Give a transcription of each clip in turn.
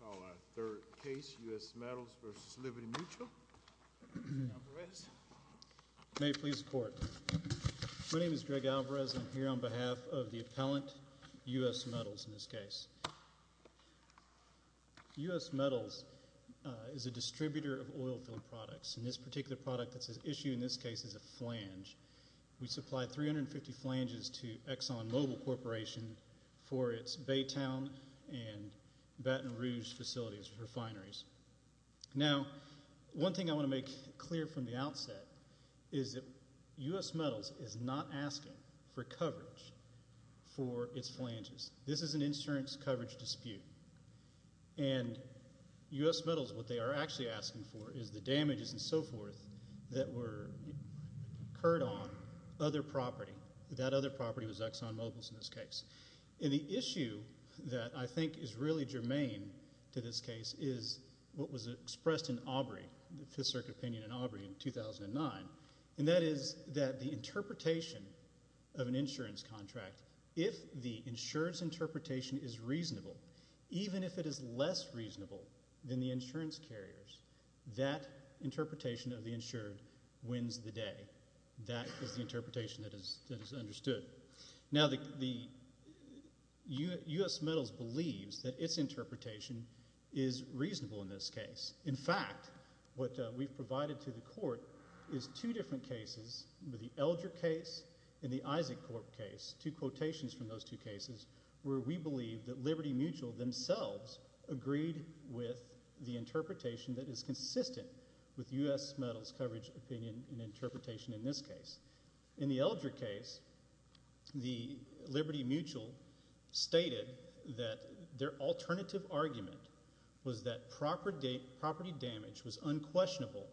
Our third case, U.S. Metals v. Liberty Mutual. Alvarez. May it please the Court. My name is Greg Alvarez. I'm here on behalf of the appellant, U.S. Metals, in this case. U.S. Metals is a distributor of oilfield products. And this particular product that's at issue in this case is a flange. We supply 350 flanges to Exxon Mobil Corporation for its Baytown and Baton Rouge facilities, refineries. Now, one thing I want to make clear from the outset is that U.S. Metals is not asking for coverage for its flanges. This is an insurance coverage dispute. And U.S. Metals, what they are actually asking for is the damages and so forth that were incurred on other property. That other property was Exxon Mobil's in this case. And the issue that I think is really germane to this case is what was expressed in Aubrey, the Fifth Circuit opinion in Aubrey in 2009. And that is that the interpretation of an insurance contract, if the insured's interpretation is reasonable, even if it is less reasonable than the insurance carrier's, that interpretation of the insured wins the day. That is the interpretation that is understood. Now, U.S. Metals believes that its interpretation is reasonable in this case. In fact, what we've provided to the court is two different cases, the Elger case and the Isaac Corp case, two quotations from those two cases where we believe that Liberty Mutual themselves agreed with the interpretation that is consistent with U.S. Metals' coverage opinion and interpretation in this case. In the Elger case, the Liberty Mutual stated that their alternative argument was that property damage was unquestionable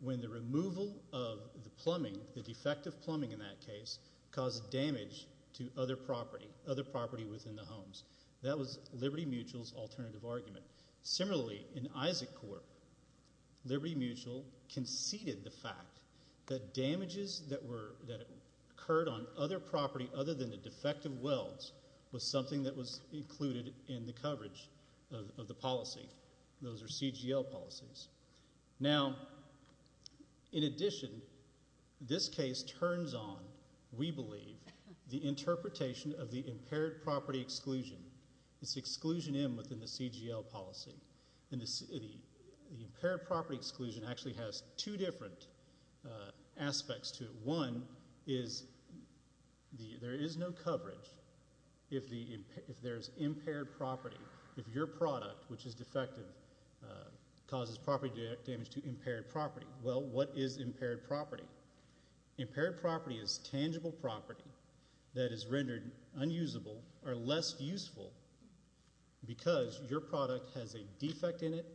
when the removal of the plumbing, the defective plumbing in that case, caused damage to other property, other property within the homes. That was Liberty Mutual's alternative argument. Similarly, in Isaac Corp, Liberty Mutual conceded the fact that damages that occurred on other property other than the defective welds was something that was included in the coverage of the policy. Those are CGL policies. Now, in addition, this case turns on, we believe, the interpretation of the impaired property exclusion. It's exclusion M within the CGL policy. And the impaired property exclusion actually has two different aspects to it. One is there is no coverage if there's impaired property. If your product, which is defective, causes property damage to impaired property. Well, what is impaired property? Impaired property is tangible property that is rendered unusable or less useful because your product has a defect in it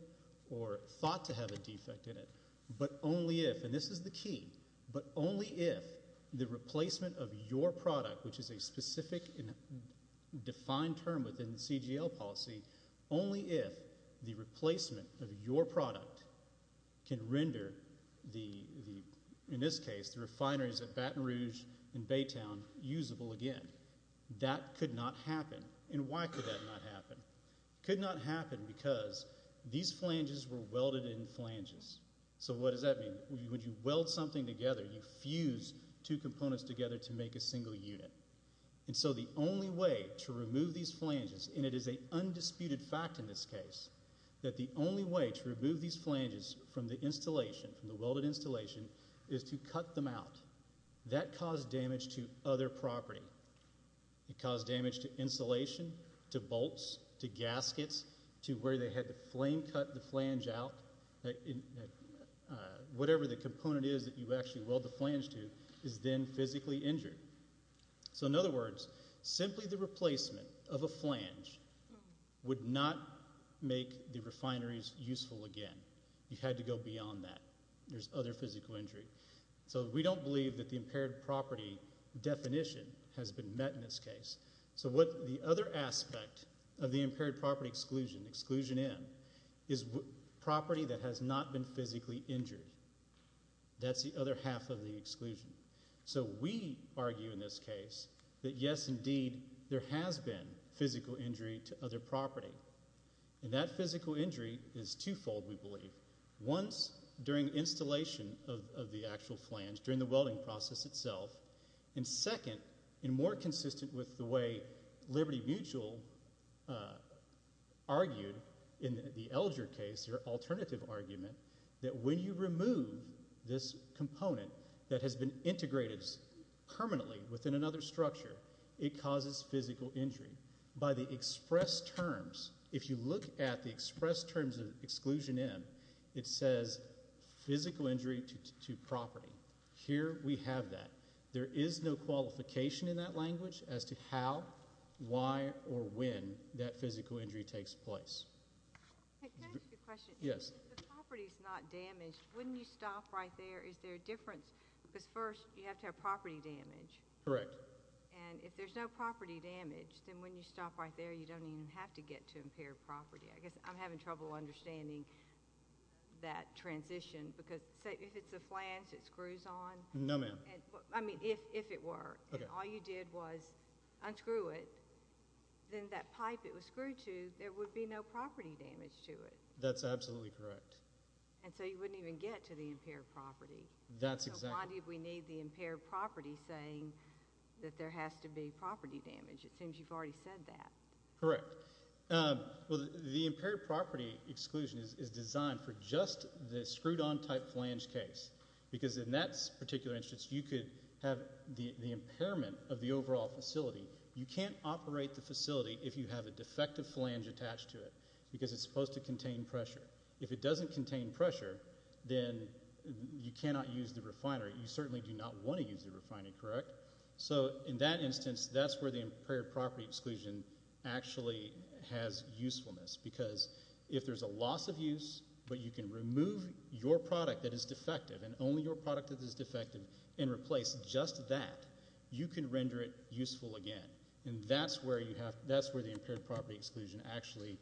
or thought to have a defect in it, but only if, and this is the key, but only if the replacement of your product, which is a specific and defined term within the CGL policy, only if the replacement of your product can render, in this case, the refineries at Baton Rouge and Baytown usable again. That could not happen. And why could that not happen? It could not happen because these flanges were welded in flanges. So what does that mean? When you weld something together, you fuse two components together to make a single unit. And so the only way to remove these flanges, and it is an undisputed fact in this case, that the only way to remove these flanges from the installation, from the welded installation, is to cut them out. That caused damage to other property. It caused damage to insulation, to bolts, to gaskets, to where they had to flame cut the flange out. Whatever the component is that you actually weld the flange to is then physically injured. So in other words, simply the replacement of a flange would not make the refineries useful again. You had to go beyond that. There's other physical injury. So we don't believe that the impaired property definition has been met in this case. So what the other aspect of the impaired property exclusion, exclusion in, is property that has not been physically injured. That's the other half of the exclusion. So we argue in this case that, yes, indeed, there has been physical injury to other property. And that physical injury is twofold, we believe. Once, during installation of the actual flange, during the welding process itself. And second, and more consistent with the way Liberty Mutual argued in the Elger case, their alternative argument, that when you remove this component that has been integrated permanently within another structure, it causes physical injury. By the express terms, if you look at the express terms of exclusion in, it says physical injury to property. Here we have that. There is no qualification in that language as to how, why, or when that physical injury takes place. Can I ask you a question? Yes. If the property's not damaged, when you stop right there, is there a difference? Because first, you have to have property damage. Correct. And if there's no property damage, then when you stop right there, you don't even have to get to impaired property. I guess I'm having trouble understanding that transition. Because if it's a flange, it screws on. No, ma'am. I mean, if it were, and all you did was unscrew it, then that pipe it was screwed to, there would be no property damage to it. That's absolutely correct. And so you wouldn't even get to the impaired property. That's exactly right. So why did we need the impaired property saying that there has to be property damage? It seems you've already said that. Correct. Well, the impaired property exclusion is designed for just the screwed-on type flange case. Because in that particular instance, you could have the impairment of the overall facility. You can't operate the facility if you have a defective flange attached to it because it's supposed to contain pressure. If it doesn't contain pressure, then you cannot use the refinery. You certainly do not want to use the refinery, correct? So in that instance, that's where the impaired property exclusion actually has usefulness. Because if there's a loss of use, but you can remove your product that is defective and only your product that is defective and replace just that, you can render it useful again. And that's where the impaired property exclusion actually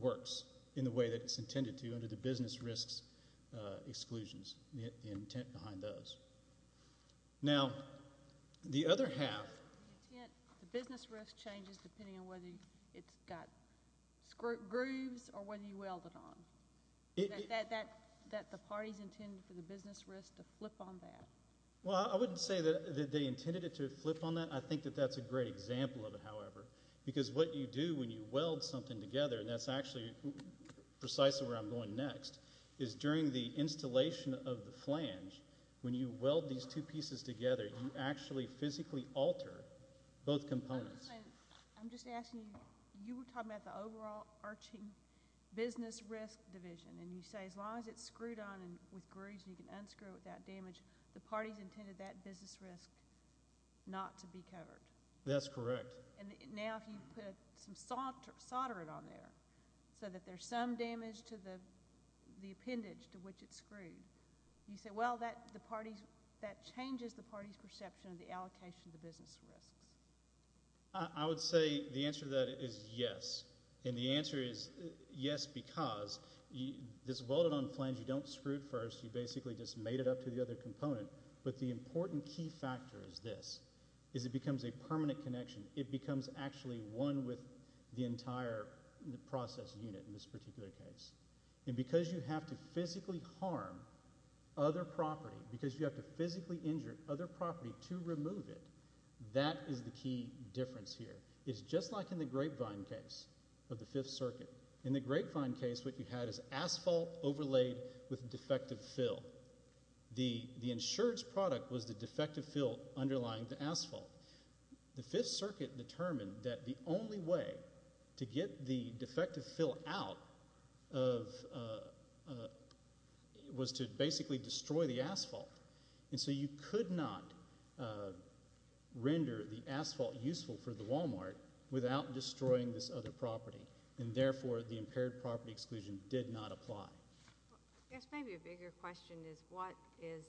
works in the way that it's intended to, under the business risks exclusions, the intent behind those. Now, the other half. The business risk changes depending on whether it's got grooves or whether you weld it on. That the parties intended for the business risk to flip on that. Well, I wouldn't say that they intended it to flip on that. I think that that's a great example of it, however. Because what you do when you weld something together, and that's actually precisely where I'm going next, is during the installation of the flange, when you weld these two pieces together, you actually physically alter both components. I'm just asking you, you were talking about the overall arching business risk division, and you say as long as it's screwed on with grooves and you can unscrew it without damage, the parties intended that business risk not to be covered. That's correct. And now if you put some solder on there so that there's some damage to the appendage to which it's screwed, you say, well, that changes the party's perception of the allocation of the business risks. I would say the answer to that is yes. And the answer is yes because this welded-on flange, you don't screw it first. You basically just mate it up to the other component. But the important key factor is this, is it becomes a permanent connection. It becomes actually one with the entire process unit in this particular case. And because you have to physically harm other property, because you have to physically injure other property to remove it, that is the key difference here. It's just like in the grapevine case of the Fifth Circuit. In the grapevine case, what you had is asphalt overlaid with defective fill. The insurance product was the defective fill underlying the asphalt. The Fifth Circuit determined that the only way to get the defective fill out was to basically destroy the asphalt. And so you could not render the asphalt useful for the Walmart without destroying this other property, and therefore the impaired property exclusion did not apply. I guess maybe a bigger question is what is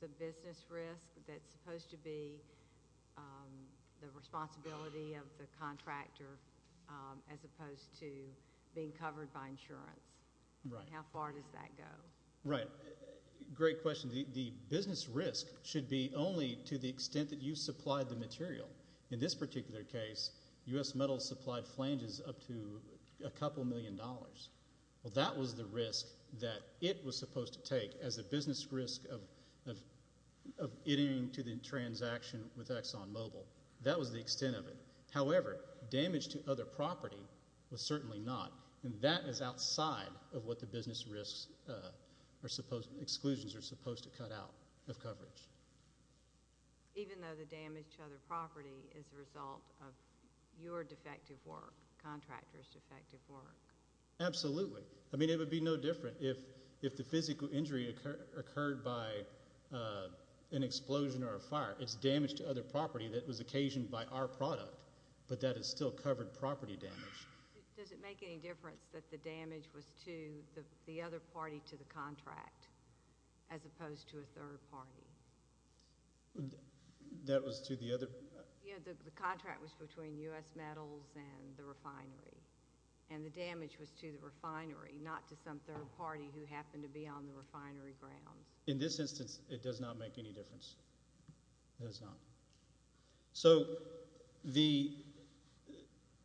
the business risk that's supposed to be the responsibility of the contractor as opposed to being covered by insurance? How far does that go? Right. Great question. The business risk should be only to the extent that you supplied the material. In this particular case, U.S. Metal supplied flanges up to a couple million dollars. Well, that was the risk that it was supposed to take as a business risk of getting to the transaction with ExxonMobil. That was the extent of it. However, damage to other property was certainly not, and that is outside of what the business risks or exclusions are supposed to cut out of coverage. Even though the damage to other property is a result of your defective work, contractor's defective work? Absolutely. I mean, it would be no different if the physical injury occurred by an explosion or a fire. It's damage to other property that was occasioned by our product, but that has still covered property damage. Does it make any difference that the damage was to the other party to the contract as opposed to a third party? That was to the other? Yeah, the contract was between U.S. Metals and the refinery, and the damage was to the refinery, not to some third party who happened to be on the refinery grounds. In this instance, it does not make any difference. It does not. So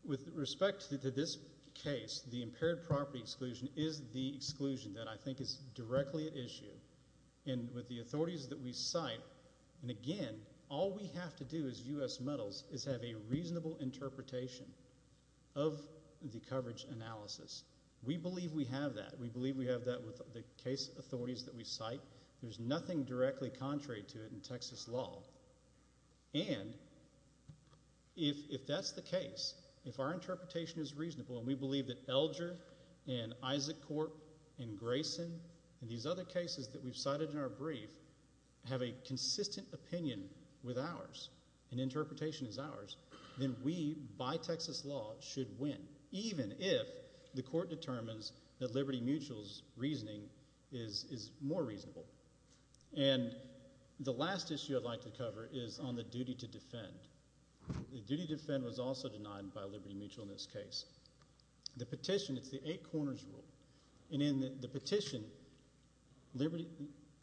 with respect to this case, the impaired property exclusion is the exclusion that I think is directly at issue. And with the authorities that we cite, and again, all we have to do as U.S. Metals is have a reasonable interpretation of the coverage analysis. We believe we have that. We believe we have that with the case authorities that we cite. There's nothing directly contrary to it in Texas law. And if that's the case, if our interpretation is reasonable and we believe that Elger and Isaac Corp and Grayson and these other cases that we've cited in our brief have a consistent opinion with ours and interpretation is ours, then we, by Texas law, should win, even if the court determines that Liberty Mutual's reasoning is more reasonable. And the last issue I'd like to cover is on the duty to defend. The duty to defend was also denied by Liberty Mutual in this case. The petition, it's the eight corners rule. And in the petition,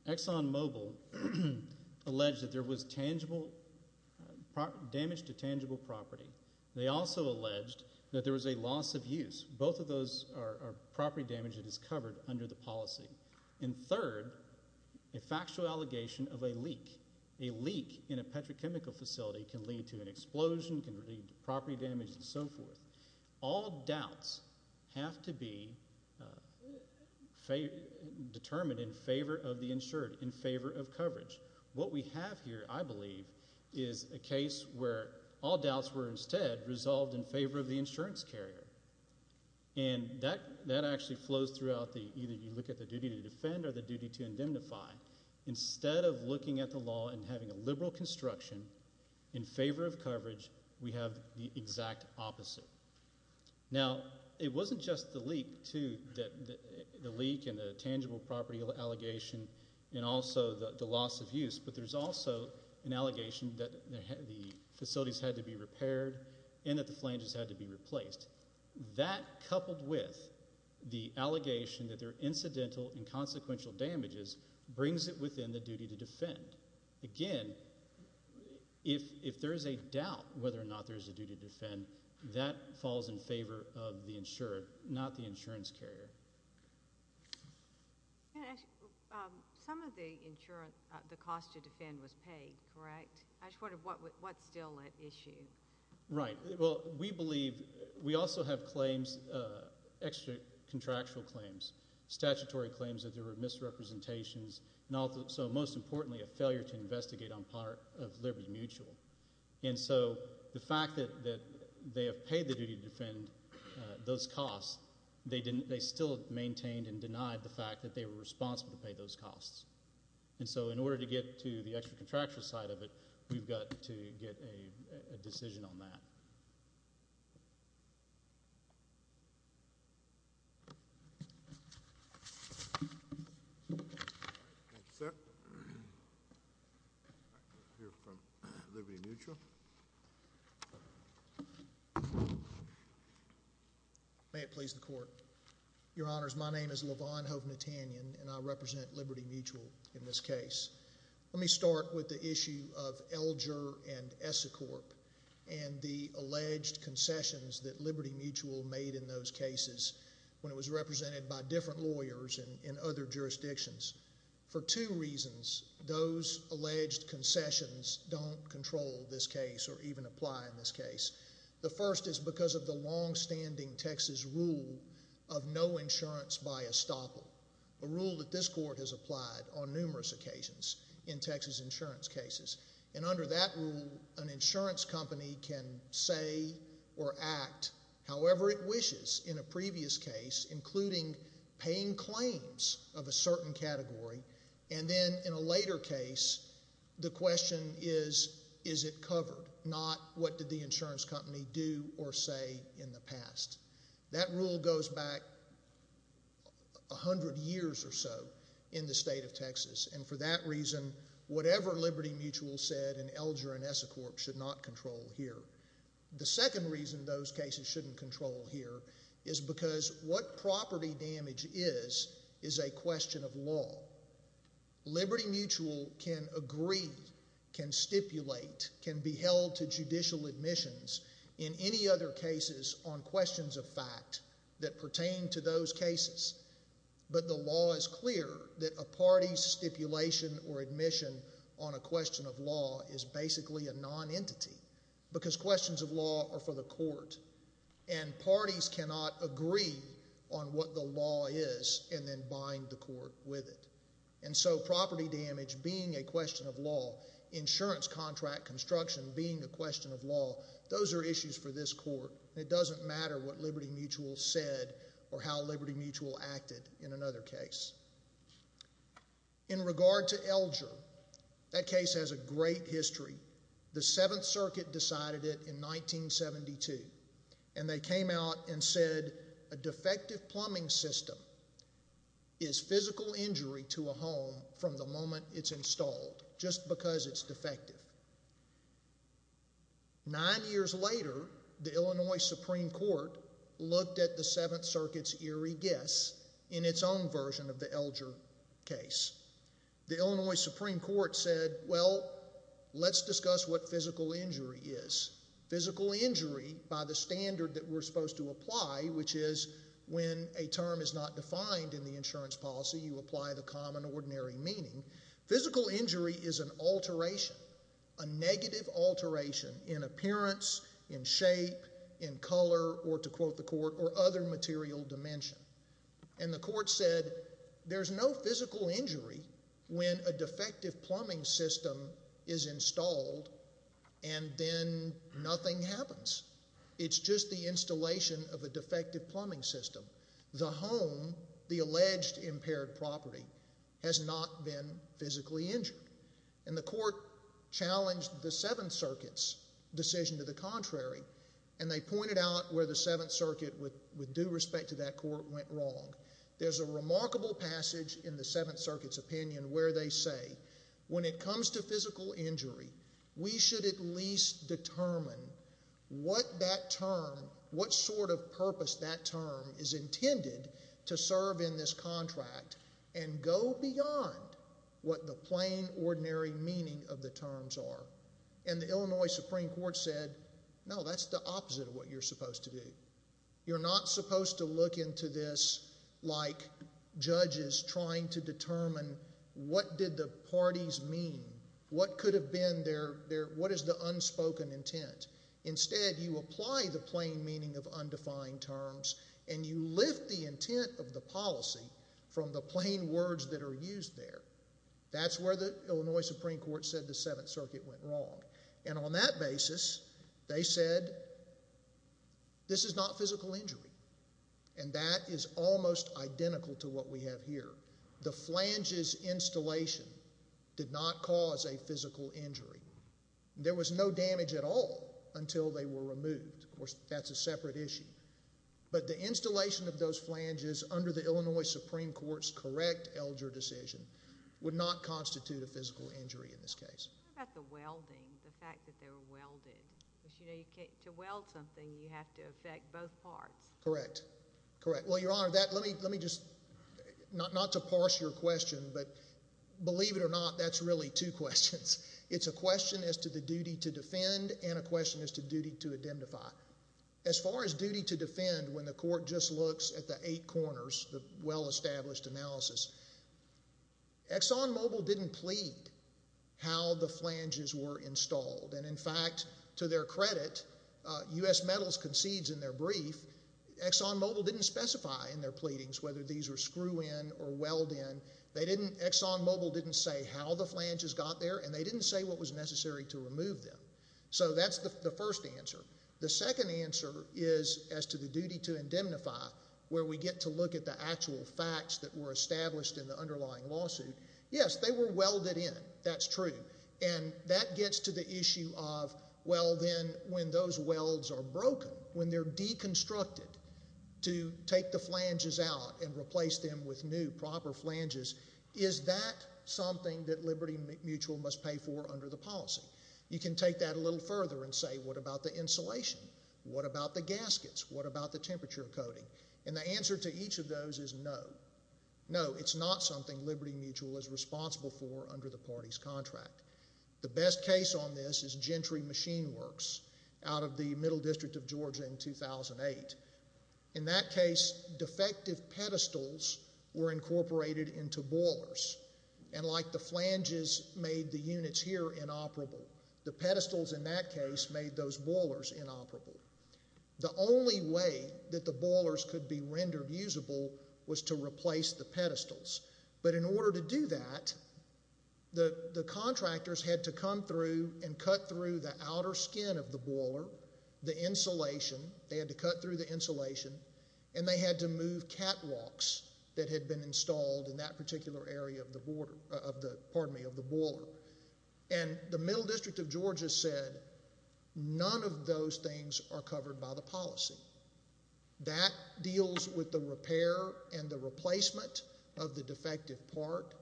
ExxonMobil alleged that there was tangible damage to tangible property. They also alleged that there was a loss of use. Both of those are property damage that is covered under the policy. And third, a factual allegation of a leak. A leak in a petrochemical facility can lead to an explosion, can lead to property damage, and so forth. All doubts have to be determined in favor of the insured, in favor of coverage. What we have here, I believe, is a case where all doubts were instead resolved in favor of the insurance carrier. And that actually flows throughout the either you look at the duty to defend or the duty to indemnify. Instead of looking at the law and having a liberal construction in favor of coverage, we have the exact opposite. Now, it wasn't just the leak, too, the leak and the tangible property allegation and also the loss of use, but there's also an allegation that the facilities had to be repaired and that the flanges had to be replaced. That, coupled with the allegation that there are incidental and consequential damages, brings it within the duty to defend. Again, if there's a doubt whether or not there's a duty to defend, that falls in favor of the insured, not the insurance carrier. Some of the cost to defend was paid, correct? I just wondered what's still at issue. Right. Well, we believe we also have claims, extra contractual claims, statutory claims that there were misrepresentations, and also, most importantly, a failure to investigate on part of Liberty Mutual. And so the fact that they have paid the duty to defend those costs, they still maintained and denied the fact that they were responsible to pay those costs. And so in order to get to the extra contractual side of it, we've got to get a decision on that. Thank you, sir. We'll hear from Liberty Mutual. May it please the Court. Your Honors, my name is Lavon Hovnatanyan, and I represent Liberty Mutual in this case. Let me start with the issue of Elger and Essicorp and the alleged concessions that Liberty Mutual made in those cases when it was represented by different lawyers in other jurisdictions. For two reasons, those alleged concessions don't control this case or even apply in this case. The first is because of the longstanding Texas rule of no insurance by estoppel, a rule that this Court has applied on numerous occasions in Texas insurance cases. And under that rule, an insurance company can say or act however it wishes in a previous case, including paying claims of a certain category. And then in a later case, the question is, is it covered, not what did the insurance company do or say in the past. That rule goes back 100 years or so in the state of Texas. And for that reason, whatever Liberty Mutual said in Elger and Essicorp should not control here. The second reason those cases shouldn't control here is because what property damage is is a question of law. Liberty Mutual can agree, can stipulate, can be held to judicial admissions in any other cases on questions of fact that pertain to those cases. But the law is clear that a party's stipulation or admission on a question of law is basically a non-entity because questions of law are for the Court. And parties cannot agree on what the law is and then bind the Court with it. And so property damage being a question of law, insurance contract construction being a question of law, those are issues for this Court. It doesn't matter what Liberty Mutual said or how Liberty Mutual acted in another case. In regard to Elger, that case has a great history. The Seventh Circuit decided it in 1972. And they came out and said a defective plumbing system is physical injury to a home from the moment it's installed just because it's defective. Nine years later, the Illinois Supreme Court looked at the Seventh Circuit's eerie guess in its own version of the Elger case. The Illinois Supreme Court said, well, let's discuss what physical injury is. Physical injury, by the standard that we're supposed to apply, which is when a term is not defined in the insurance policy, you apply the common ordinary meaning. Physical injury is an alteration, a negative alteration in appearance, in shape, in color, or to quote the Court, or other material dimension. And the Court said there's no physical injury when a defective plumbing system is installed and then nothing happens. It's just the installation of a defective plumbing system. The home, the alleged impaired property, has not been physically injured. And the Court challenged the Seventh Circuit's decision to the contrary. And they pointed out where the Seventh Circuit, with due respect to that Court, went wrong. There's a remarkable passage in the Seventh Circuit's opinion where they say, when it comes to physical injury, we should at least determine what that term, what sort of purpose that term is intended to serve in this contract and go beyond what the plain ordinary meaning of the terms are. And the Illinois Supreme Court said, no, that's the opposite of what you're supposed to do. You're not supposed to look into this like judges trying to determine what did the parties mean, what could have been their, what is the unspoken intent. Instead, you apply the plain meaning of undefined terms and you lift the intent of the policy from the plain words that are used there. That's where the Illinois Supreme Court said the Seventh Circuit went wrong. And on that basis, they said, this is not physical injury. And that is almost identical to what we have here. The flanges installation did not cause a physical injury. There was no damage at all until they were removed. Of course, that's a separate issue. But the installation of those flanges under the Illinois Supreme Court's correct Elger decision would not constitute a physical injury in this case. What about the welding, the fact that they were welded? Because, you know, to weld something, you have to affect both parts. Correct. Correct. Well, Your Honor, let me just, not to parse your question, but believe it or not, that's really two questions. It's a question as to the duty to defend and a question as to duty to identify. As far as duty to defend, when the court just looks at the eight corners, the well-established analysis, ExxonMobil didn't plead how the flanges were installed. And, in fact, to their credit, U.S. Metals concedes in their brief, ExxonMobil didn't specify in their pleadings whether these were screw-in or weld-in. They didn't, ExxonMobil didn't say how the flanges got there, and they didn't say what was necessary to remove them. So that's the first answer. The second answer is as to the duty to indemnify, where we get to look at the actual facts that were established in the underlying lawsuit. Yes, they were welded in. That's true. And that gets to the issue of, well, then, when those welds are broken, when they're deconstructed to take the flanges out and replace them with new, proper flanges, is that something that Liberty Mutual must pay for under the policy? You can take that a little further and say, what about the insulation? What about the gaskets? What about the temperature coating? And the answer to each of those is no. No, it's not something Liberty Mutual is responsible for under the party's contract. The best case on this is Gentry Machine Works out of the Middle District of Georgia in 2008. In that case, defective pedestals were incorporated into boilers, and like the flanges made the units here inoperable, the pedestals in that case made those boilers inoperable. The only way that the boilers could be rendered usable was to replace the pedestals. But in order to do that, the contractors had to come through and cut through the outer skin of the boiler, the insulation. They had to cut through the insulation, and they had to move catwalks that had been installed in that particular area of the boiler. And the Middle District of Georgia said none of those things are covered by the policy. That deals with the repair and the replacement of the defective part.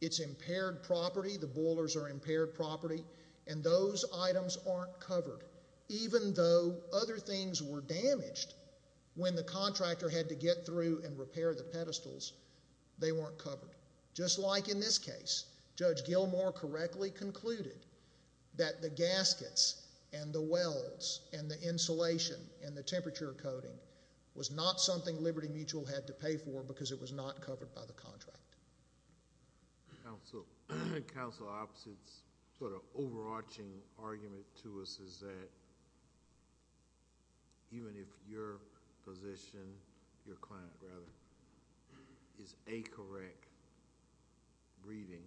It's impaired property, the boilers are impaired property, and those items aren't covered, even though other things were damaged when the contractor had to get through and repair the pedestals, they weren't covered. Just like in this case, Judge Gilmore correctly concluded that the gaskets and the welds and the insulation and the temperature coating was not something Liberty Mutual had to pay for because it was not covered by the contract. Counsel Opps, it's sort of overarching argument to us is that even if your position, your client rather, is a correct reading,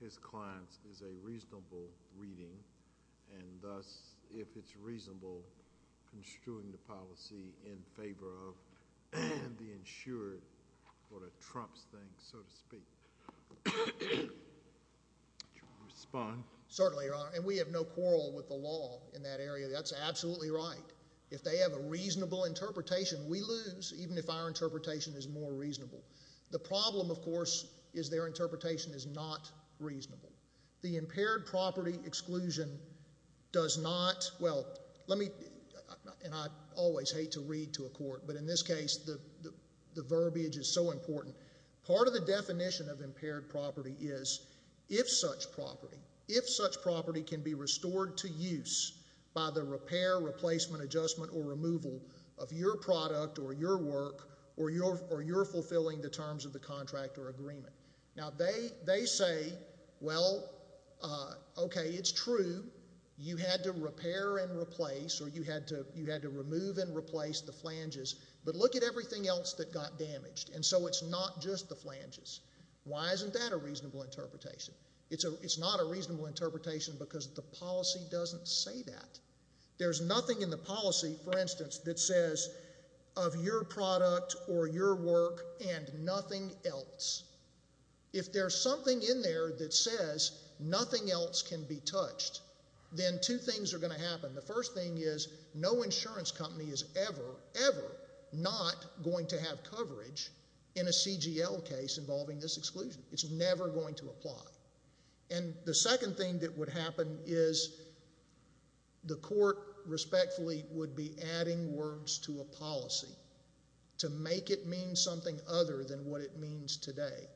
his client's is a reasonable reading, and thus, if it's reasonable, construing the policy in favor of the insured or a Trump's thing, so to speak, would you respond? Certainly, Your Honor, and we have no quarrel with the law in that area. That's absolutely right. If they have a reasonable interpretation, we lose, even if our interpretation is more reasonable. The problem, of course, is their interpretation is not reasonable. The impaired property exclusion does not, well, let me, and I always hate to read to a court, but in this case, the verbiage is so important. Part of the definition of impaired property is if such property, if such property can be restored to use by the repair, replacement, adjustment, or removal of your product or your work or you're fulfilling the terms of the contract or agreement. Now, they say, well, okay, it's true. You had to repair and replace or you had to remove and replace the flanges, but look at everything else that got damaged, and so it's not just the flanges. Why isn't that a reasonable interpretation? It's not a reasonable interpretation because the policy doesn't say that. There's nothing in the policy, for instance, that says of your product or your work and nothing else. If there's something in there that says nothing else can be touched, then two things are going to happen. The first thing is no insurance company is ever, ever not going to have coverage in a CGL case involving this exclusion. It's never going to apply. And the second thing that would happen is the court respectfully would be adding words to a policy to make it mean something other than what it means today.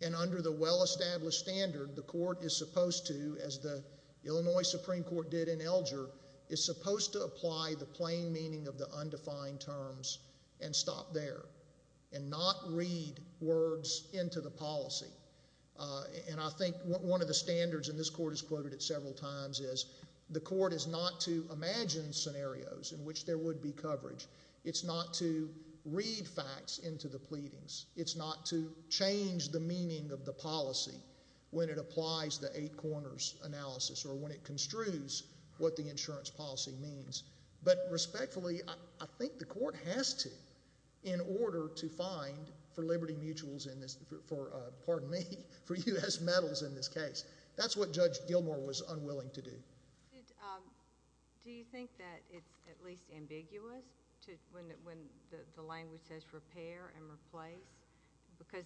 And under the well-established standard, the court is supposed to, as the Illinois Supreme Court did in Elger, is supposed to apply the plain meaning of the undefined terms and stop there and not read words into the policy. And I think one of the standards, and this court has quoted it several times, is the court is not to imagine scenarios in which there would be coverage. It's not to read facts into the pleadings. It's not to change the meaning of the policy when it applies the eight corners analysis or when it construes what the insurance policy means. But respectfully, I think the court has to in order to find, for Liberty Mutuals in this, for, pardon me, for U.S. Metals in this case. That's what Judge Gilmour was unwilling to do. Do you think that it's at least ambiguous when the language says repair and replace? Because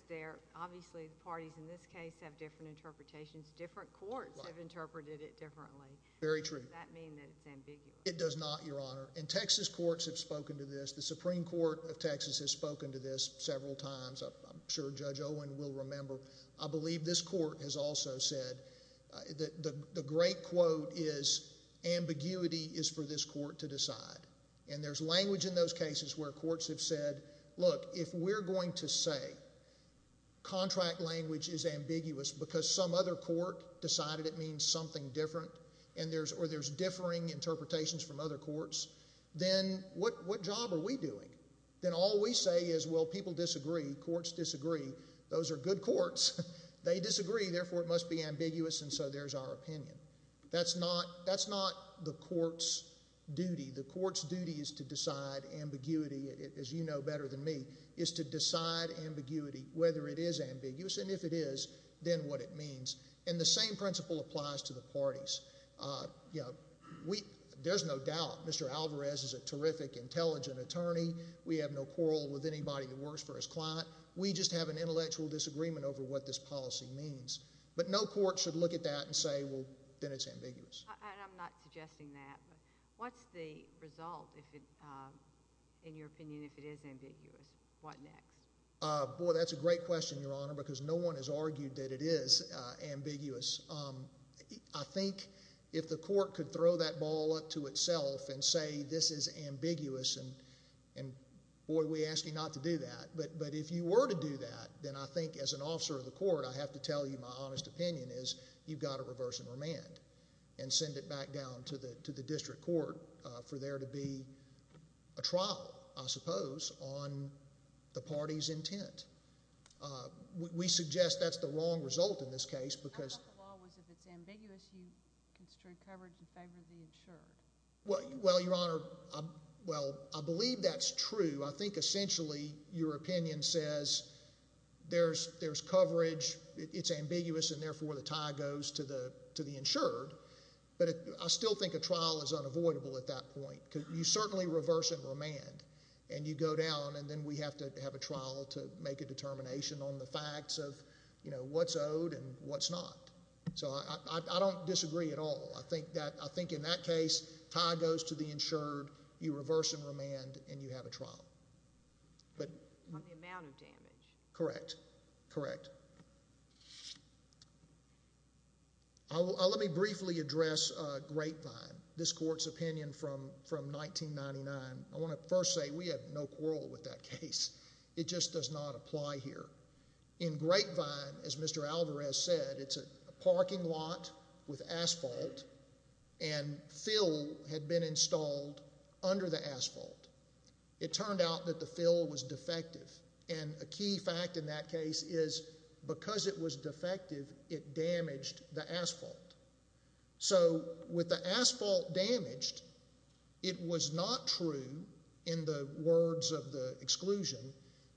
obviously the parties in this case have different interpretations. Different courts have interpreted it differently. Very true. Does that mean that it's ambiguous? It does not, Your Honor. And Texas courts have spoken to this. The Supreme Court of Texas has spoken to this several times. I'm sure Judge Owen will remember. I believe this court has also said that the great quote is ambiguity is for this court to decide. And there's language in those cases where courts have said, look, if we're going to say contract language is ambiguous because some other court decided it means something different or there's differing interpretations from other courts, then what job are we doing? Then all we say is, well, people disagree. Courts disagree. Those are good courts. They disagree. Therefore, it must be ambiguous. And so there's our opinion. That's not the court's duty. The court's duty is to decide ambiguity, as you know better than me, is to decide ambiguity, whether it is ambiguous. And if it is, then what it means. And the same principle applies to the parties. There's no doubt Mr. Alvarez is a terrific, intelligent attorney. We have no quarrel with anybody that works for his client. We just have an intellectual disagreement over what this policy means. But no court should look at that and say, well, then it's ambiguous. I'm not suggesting that. What's the result, in your opinion, if it is ambiguous? What next? Boy, that's a great question, Your Honor, because no one has argued that it is ambiguous. I think if the court could throw that ball up to itself and say this is ambiguous, and boy, we ask you not to do that. But if you were to do that, then I think as an officer of the court, I have to tell you my honest opinion is you've got to reverse and remand and send it back down to the district court for there to be a trial, I suppose, on the party's intent. We suggest that's the wrong result in this case because— I thought the law was if it's ambiguous, you constrain coverage in favor of the insured. Well, Your Honor, well, I believe that's true. I think essentially your opinion says there's coverage, it's ambiguous, and therefore the tie goes to the insured. But I still think a trial is unavoidable at that point because you certainly reverse and remand and you go down and then we have to have a trial to make a determination on the facts of what's owed and what's not. So I don't disagree at all. I think in that case, tie goes to the insured, you reverse and remand, and you have a trial. On the amount of damage. Correct. Let me briefly address Grapevine, this court's opinion from 1999. I want to first say we have no quarrel with that case. It just does not apply here. In Grapevine, as Mr. Alvarez said, it's a parking lot with asphalt and fill had been installed under the asphalt. It turned out that the fill was defective, and a key fact in that case is because it was defective, it damaged the asphalt. So with the asphalt damaged, it was not true in the words of the exclusion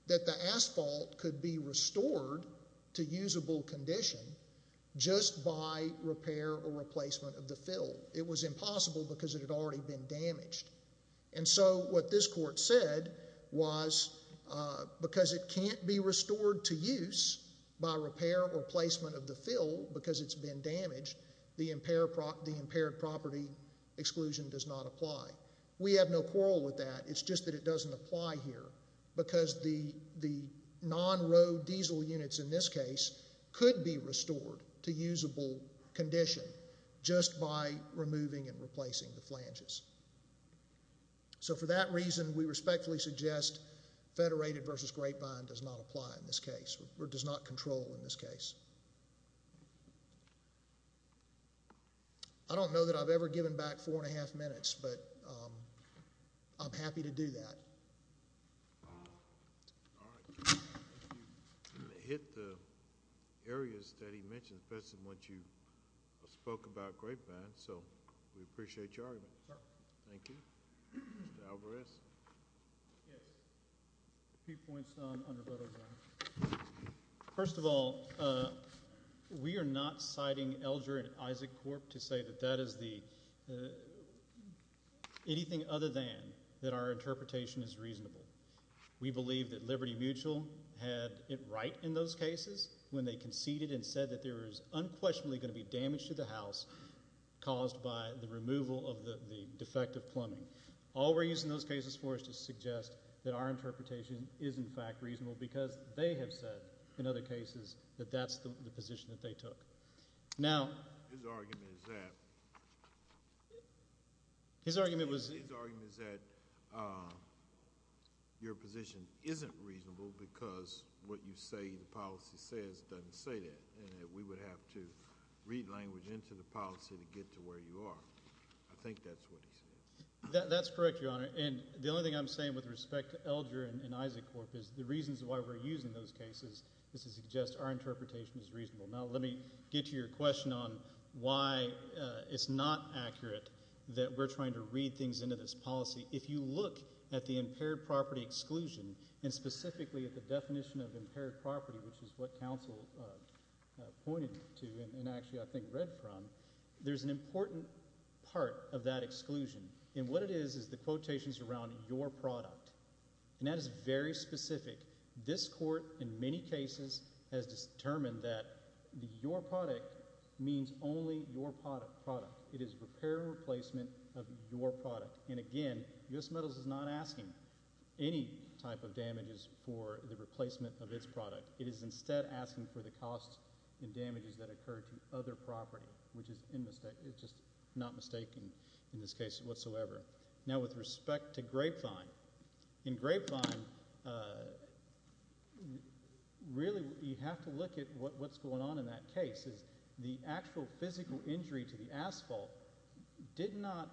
that the asphalt could be restored to usable condition just by repair or replacement of the fill. It was impossible because it had already been damaged. And so what this court said was because it can't be restored to use by repair or replacement of the fill because it's been damaged, the impaired property exclusion does not apply. We have no quarrel with that. It's just that it doesn't apply here because the non-road diesel units in this case could be restored to usable condition just by removing and replacing the flanges. So for that reason, we respectfully suggest Federated v. Grapevine does not apply in this case or does not control in this case. I don't know that I've ever given back four and a half minutes, but I'm happy to do that. All right. You hit the areas that he mentioned, especially in what you spoke about Grapevine, so we appreciate your argument. Sir. Thank you. Mr. Alvarez? Yes. A few points on undervoto zone. First of all, we are not citing Elger and Isaac Corp. to say that that is anything other than that our interpretation is reasonable. We believe that Liberty Mutual had it right in those cases when they conceded and said that there was unquestionably going to be damage to the house caused by the removal of the defective plumbing. All we're using those cases for is to suggest that our interpretation is in fact reasonable because they have said in other cases that that's the position that they took. His argument is that your position isn't reasonable because what you say the policy says doesn't say that and that we would have to read language into the policy to get to where you are. I think that's what he said. That's correct, Your Honor, and the only thing I'm saying with respect to Elger and Isaac Corp. is the reasons why we're using those cases is to suggest our interpretation is reasonable. Now let me get to your question on why it's not accurate that we're trying to read things into this policy. If you look at the impaired property exclusion and specifically at the definition of impaired property, which is what counsel pointed to and actually I think read from, there's an important part of that exclusion, and what it is is the quotations around your product, and that is very specific. This court in many cases has determined that your product means only your product. It is repair and replacement of your product, and again, U.S. Metals is not asking any type of damages for the replacement of its product. It is instead asking for the costs and damages that occur to other property, which is just not mistaken in this case whatsoever. Now with respect to Grapevine, in Grapevine, really you have to look at what's going on in that case. The actual physical injury to the asphalt did not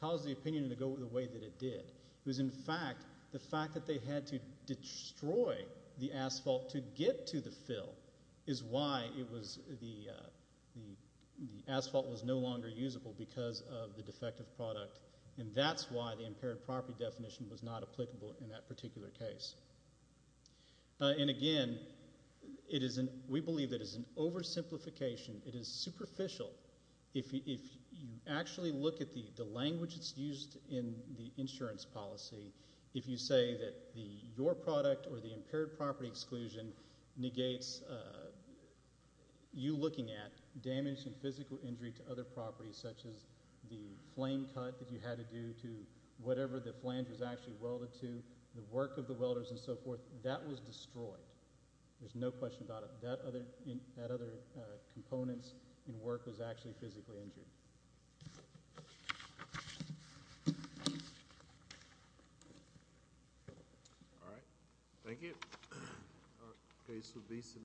cause the opinion to go the way that it did. It was in fact the fact that they had to destroy the asphalt to get to the fill is why the asphalt was no longer usable because of the defective product, and that's why the impaired property definition was not applicable in that particular case. And again, we believe it is an oversimplification. It is superficial. If you actually look at the language that's used in the insurance policy, if you say that your product or the impaired property exclusion negates you looking at damage and physical injury to other properties such as the flame cut that you had to do to whatever the flange was actually welded to, the work of the welders and so forth, that was destroyed. There's no question about it. That other component in work was actually physically injured. All right. Thank you.